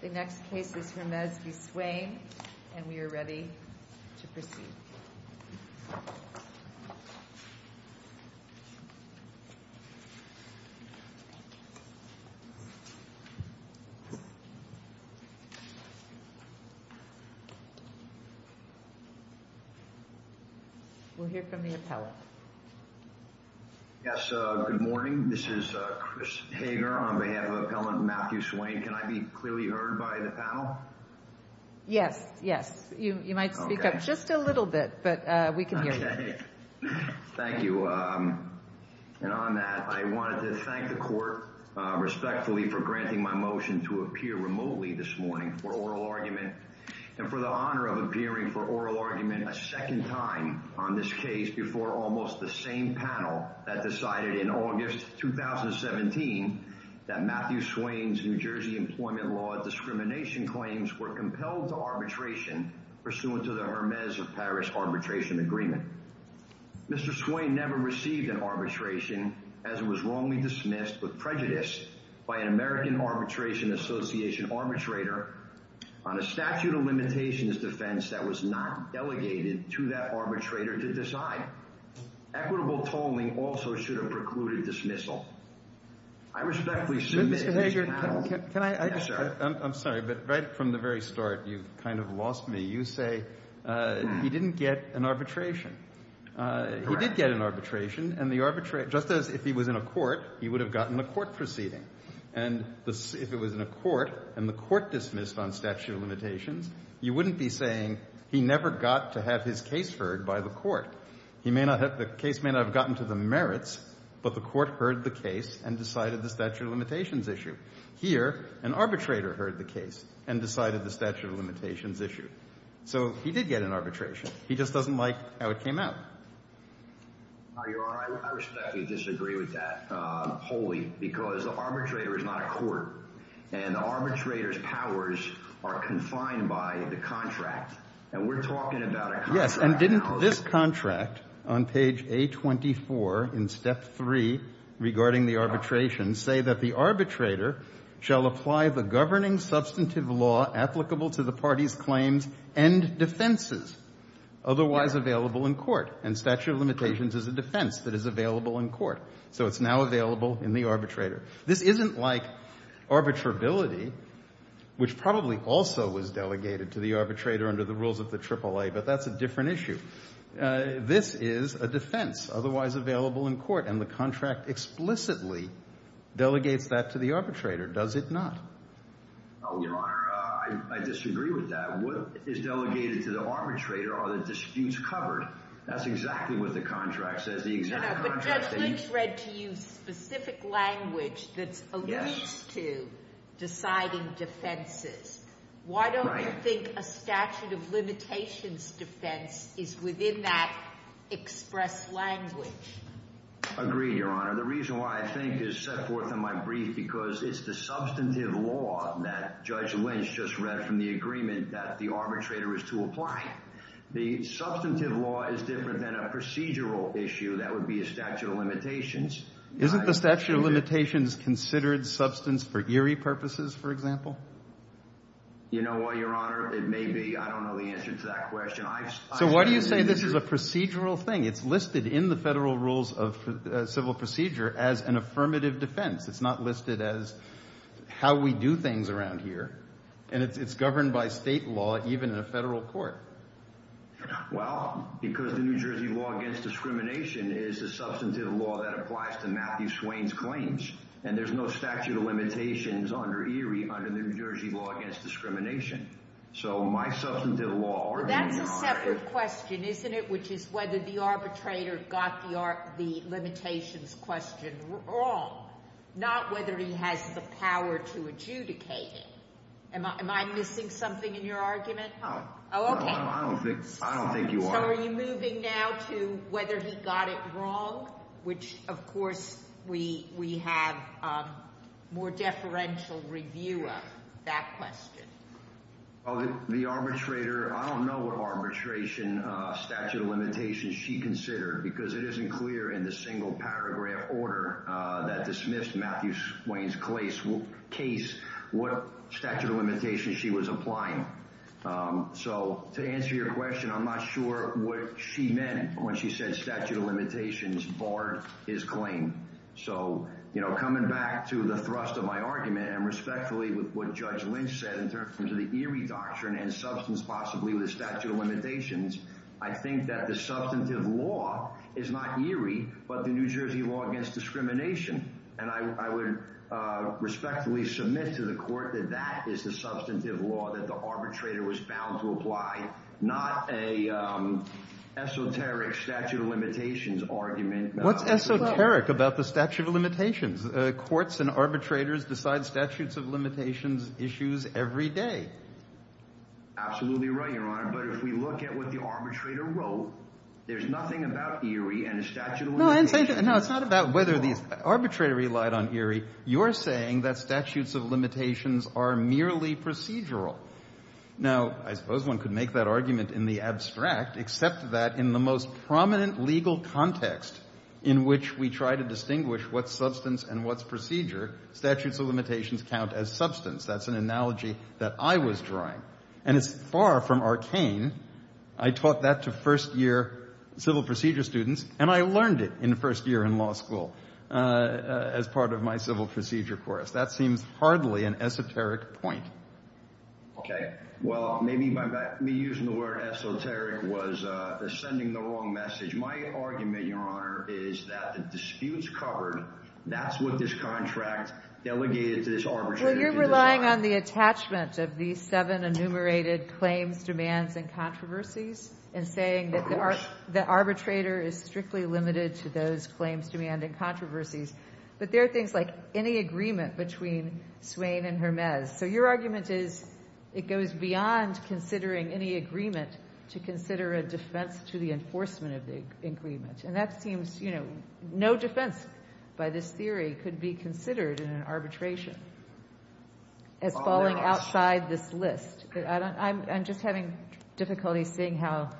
The next case is Hermes v. Swain, and we are ready to proceed. We'll hear from the appellant. Yes, good morning. This is Chris Hager on behalf of Appellant Matthew Swain. Can I be clearly heard by the panel? Yes, yes. You might speak up just a little bit, but we can hear you. Okay. Thank you. And on that, I wanted to thank the court respectfully for granting my motion to appear remotely this morning for oral argument, and for the honor of appearing for oral argument a second time on this case before almost the same panel that decided in August 2017 that Matthew Swain's New Jersey employment law discrimination claims were compelled to arbitration pursuant to the Hermes of Paris arbitration agreement. Mr. Swain never received an arbitration as it was wrongly dismissed with prejudice by an American Arbitration Association arbitrator on a statute of limitations defense that was not delegated to that arbitrator to decide. Equitable tolling also should have precluded dismissal. I respectfully submit to this panel. Mr. Hager, can I – I'm sorry, but right from the very start, you've kind of lost me. You say he didn't get an arbitration. Correct. He did get an arbitration, and the – just as if he was in a court, he would have gotten a court proceeding. And if it was in a court and the court dismissed on statute of limitations, you wouldn't be saying he never got to have his case heard by the court. He may not have – the case may not have gotten to the merits, but the court heard the case and decided the statute of limitations issue. Here, an arbitrator heard the case and decided the statute of limitations issue. So he did get an arbitration. He just doesn't like how it came out. Your Honor, I respectfully disagree with that wholly because the arbitrator is not a court, and the arbitrator's powers are confined by the contract. And we're talking about a contract policy. Yes, and didn't this contract on page A24 in step 3 regarding the arbitration say that the arbitrator shall apply the governing substantive law applicable to the party's claims and defenses otherwise available in court? And statute of limitations is a defense that is available in court. So it's now available in the arbitrator. This isn't like arbitrability, which probably also was delegated to the arbitrator under the rules of the AAA, but that's a different issue. This is a defense otherwise available in court, and the contract explicitly delegates that to the arbitrator, does it not? Your Honor, I disagree with that. What is delegated to the arbitrator are the disputes covered. That's exactly what the contract says. But Judge Lynch read to you specific language that's at least to deciding defenses. Why don't you think a statute of limitations defense is within that express language? Agreed, Your Honor. The reason why I think is set forth in my brief because it's the substantive law that Judge Lynch just read from the agreement that the arbitrator is to apply. The substantive law is different than a procedural issue. That would be a statute of limitations. Isn't the statute of limitations considered substance for eerie purposes, for example? You know what, Your Honor? It may be. I don't know the answer to that question. So why do you say this is a procedural thing? It's listed in the Federal Rules of Civil Procedure as an affirmative defense. It's not listed as how we do things around here. And it's governed by state law, even in a federal court. Well, because the New Jersey Law Against Discrimination is a substantive law that applies to Matthew Swain's claims. And there's no statute of limitations under ERIE under the New Jersey Law Against Discrimination. So my substantive law argument is not true. The other question, isn't it, which is whether the arbitrator got the limitations question wrong, not whether he has the power to adjudicate it. Am I missing something in your argument? No. Oh, okay. I don't think you are. So are you moving now to whether he got it wrong, which of course we have more deferential review of that question? The arbitrator, I don't know what arbitration statute of limitations she considered because it isn't clear in the single paragraph order that dismissed Matthew Swain's case what statute of limitations she was applying. So to answer your question, I'm not sure what she meant when she said statute of limitations barred his claim. So, you know, coming back to the thrust of my argument and respectfully with what Judge Lynch said in terms of the ERIE doctrine and substance possibly with the statute of limitations, I think that the substantive law is not ERIE but the New Jersey Law Against Discrimination. And I would respectfully submit to the court that that is the substantive law that the arbitrator was bound to apply, not an esoteric statute of limitations argument. What's esoteric about the statute of limitations? Courts and arbitrators decide statutes of limitations issues every day. Absolutely right, Your Honor. But if we look at what the arbitrator wrote, there's nothing about ERIE and the statute of limitations. No, it's not about whether the arbitrator relied on ERIE. You're saying that statutes of limitations are merely procedural. Now, I suppose one could make that argument in the abstract, except that in the most prominent legal context in which we try to distinguish what's substance and what's procedure, statutes of limitations count as substance. That's an analogy that I was drawing. And it's far from arcane. I taught that to first-year civil procedure students, and I learned it in first year in law school as part of my civil procedure course. That seems hardly an esoteric point. Okay. Well, maybe me using the word esoteric was sending the wrong message. My argument, Your Honor, is that the disputes covered, that's what this contract delegated to this arbitrator. Well, you're relying on the attachment of these seven enumerated claims, demands, and controversies and saying that the arbitrator is strictly limited to those claims, demands, and controversies. But there are things like any agreement between Swain and Hermes. So your argument is it goes beyond considering any agreement to consider a defense to the enforcement of the agreement. And that seems, you know, no defense by this theory could be considered in an arbitration as falling outside this list. I'm just having difficulty seeing how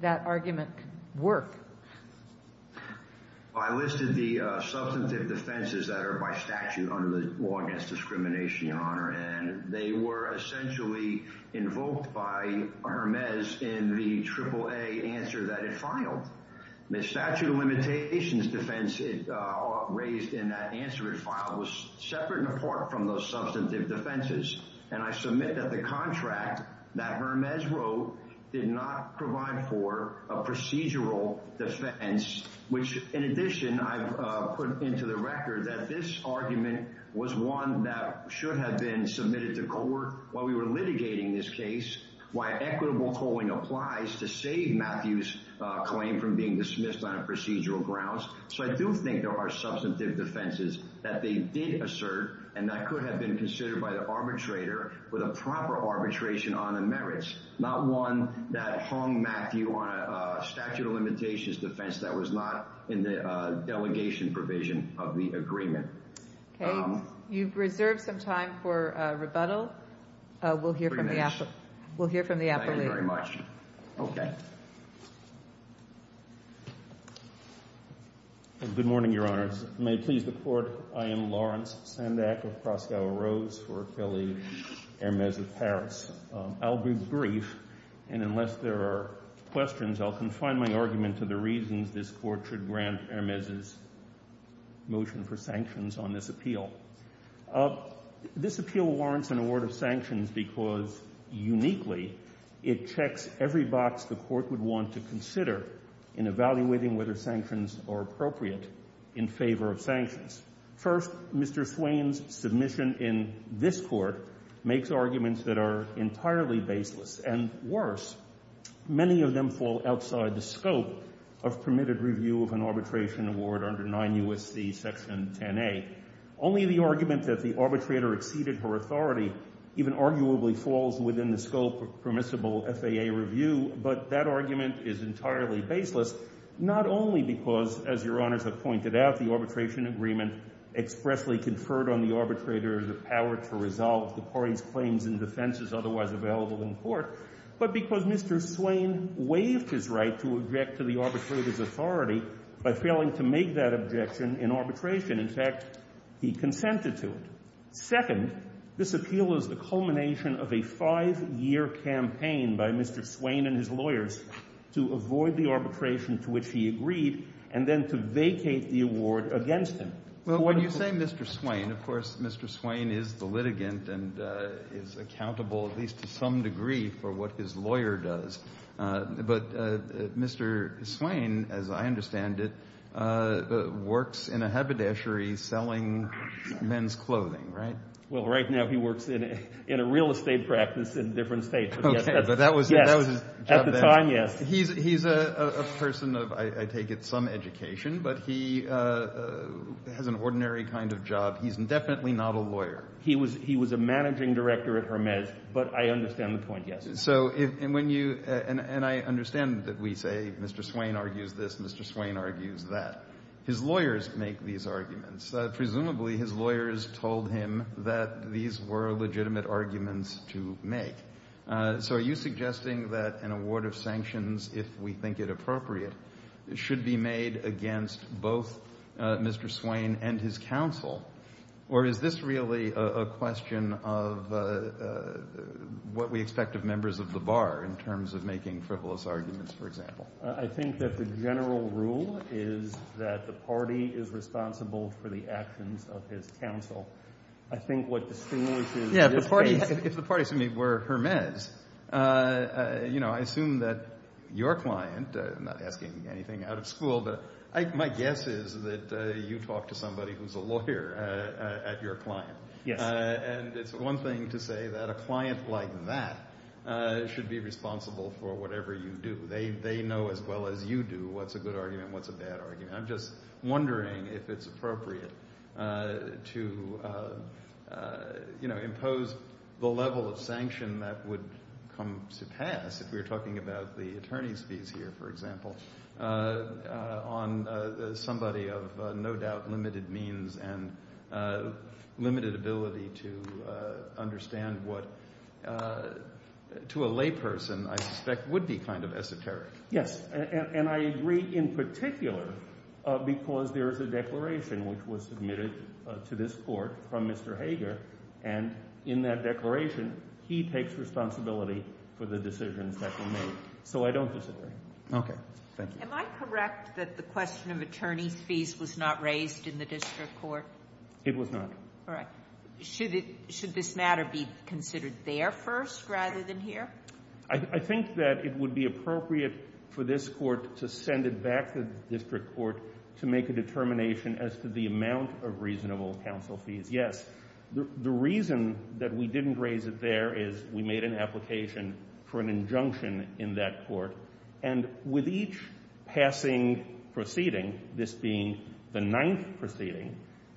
that argument could work. I listed the substantive defenses that are by statute under the Law Against Discrimination, Your Honor, and they were essentially invoked by Hermes in the AAA answer that it filed. The statute of limitations defense raised in that answer it filed was separate and apart from those substantive defenses. And I submit that the contract that Hermes wrote did not provide for a procedural defense, which, in addition, I've put into the record that this argument was one that should have been submitted to court while we were litigating this case, why equitable tolling applies to save Matthew's claim from being dismissed on a procedural grounds. So I do think there are substantive defenses that they did assert and that could have been considered by the arbitrator with a proper arbitration on the merits, not one that hung Matthew on a statute of limitations defense that was not in the delegation provision of the agreement. Okay. You've reserved some time for rebuttal. We'll hear from the appellate. Thank you very much. Okay. Good morning, Your Honors. May it please the Court, I am Lawrence Sandak of Croscow Rose for Kelly, Hermes of Paris. I'll be brief, and unless there are questions, I'll confine my argument to the reasons this Court should grant Hermes' motion for sanctions on this appeal. This appeal warrants an award of sanctions because, uniquely, it checks every box the Court would want to consider in evaluating whether sanctions are appropriate in favor of sanctions. First, Mr. Swain's submission in this Court makes arguments that are entirely baseless, and worse, many of them fall outside the scope of permitted review of an arbitration award under 9 U.S.C. Section 10A. Only the argument that the arbitrator exceeded her authority even arguably falls within the scope of permissible FAA review, but that argument is entirely baseless, not only because, as Your Honors have pointed out, the arbitration agreement expressly conferred on the arbitrator the power to resolve the party's claims and defenses otherwise available in court, but because Mr. Swain waived his right to object to the arbitrator's authority by failing to make that objection in arbitration. In fact, he consented to it. Second, this appeal is the culmination of a five-year campaign by Mr. Swain and his lawyers to avoid the arbitration to which he agreed and then to vacate the award against him. Well, when you say Mr. Swain, of course Mr. Swain is the litigant and is accountable at least to some degree for what his lawyer does. But Mr. Swain, as I understand it, works in a haberdashery selling men's clothing, right? Well, right now he works in a real estate practice in different states. Okay, but that was his job then. At the time, yes. He's a person of, I take it, some education, but he has an ordinary kind of job. He's definitely not a lawyer. He was a managing director at Hermes, but I understand the point, yes. So when you – and I understand that we say Mr. Swain argues this, Mr. Swain argues that. His lawyers make these arguments. Presumably his lawyers told him that these were legitimate arguments to make. So are you suggesting that an award of sanctions, if we think it appropriate, should be made against both Mr. Swain and his counsel? Or is this really a question of what we expect of members of the bar in terms of making frivolous arguments, for example? I think that the general rule is that the party is responsible for the actions of his counsel. I think what distinguishes this case – Yeah, if the party were Hermes, you know, I assume that your client – I'm not asking anything out of school, but my guess is that you talk to somebody who's a lawyer at your client. Yes. And it's one thing to say that a client like that should be responsible for whatever you do. They know as well as you do what's a good argument, what's a bad argument. I'm just wondering if it's appropriate to, you know, impose the level of sanction that would come to pass if we were talking about the attorney's fees here, for example, on somebody of no doubt limited means and limited ability to understand what, to a layperson, I suspect, would be kind of esoteric. Yes. And I agree in particular because there is a declaration which was submitted to this Court from Mr. Hager. And in that declaration, he takes responsibility for the decisions that were made. So I don't disagree. Okay. Thank you. Am I correct that the question of attorney's fees was not raised in the district court? It was not. All right. Should this matter be considered there first rather than here? I think that it would be appropriate for this Court to send it back to the district court to make a determination as to the amount of reasonable counsel fees. Yes. The reason that we didn't raise it there is we made an application for an injunction in that court. And with each passing proceeding, this being the ninth proceeding,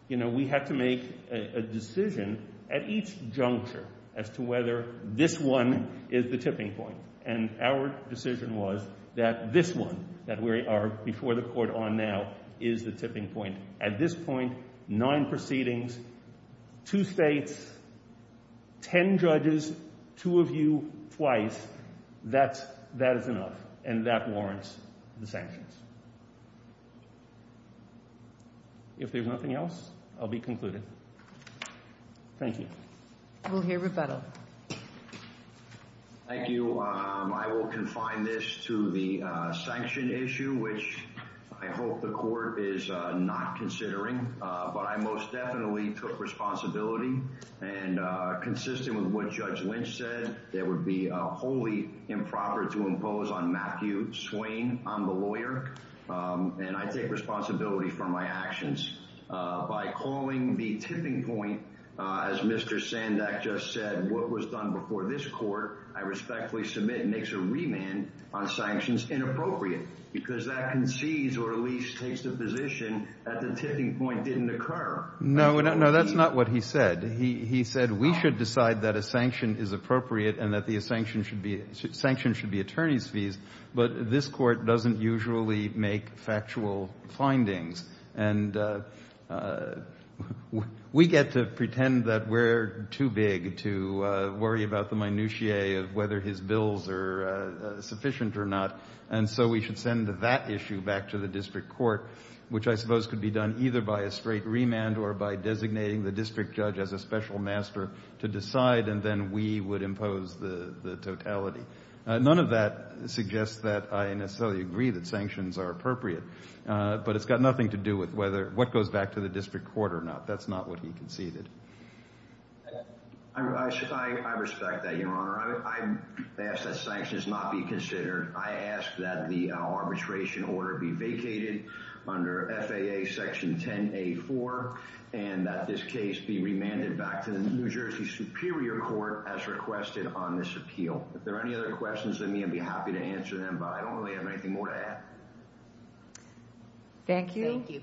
we had to make a decision at each juncture as to whether this one is the tipping point. And our decision was that this one, that we are before the Court on now, is the tipping point. At this point, nine proceedings, two states, ten judges, two of you, twice, that is enough. And that warrants the sanctions. If there's nothing else, I'll be concluded. Thank you. We'll hear rebuttal. Thank you. I will confine this to the sanction issue, which I hope the Court is not considering. But I most definitely took responsibility. And consistent with what Judge Lynch said, there would be a wholly improper to impose on Matthew Swain. I'm the lawyer, and I take responsibility for my actions. By calling the tipping point, as Mr. Sandak just said, what was done before this Court, I respectfully submit, makes a remand on sanctions inappropriate because that concedes or at least takes the position that the tipping point didn't occur. No, that's not what he said. He said we should decide that a sanction is appropriate and that the sanction should be attorney's fees, but this Court doesn't usually make factual findings. And we get to pretend that we're too big to worry about the minutiae of whether his bills are sufficient or not. And so we should send that issue back to the district court, which I suppose could be done either by a straight remand or by designating the district judge as a special master to decide, and then we would impose the totality. None of that suggests that I necessarily agree that sanctions are appropriate, but it's got nothing to do with what goes back to the district court or not. That's not what he conceded. I respect that, Your Honor. I ask that sanctions not be considered. I ask that the arbitration order be vacated under FAA Section 10A4 and that this case be remanded back to the New Jersey Superior Court as requested on this appeal. If there are any other questions, I'd be happy to answer them, but I don't really have anything more to add. Thank you. Thank you.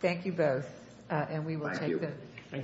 Thank you both. Thank you.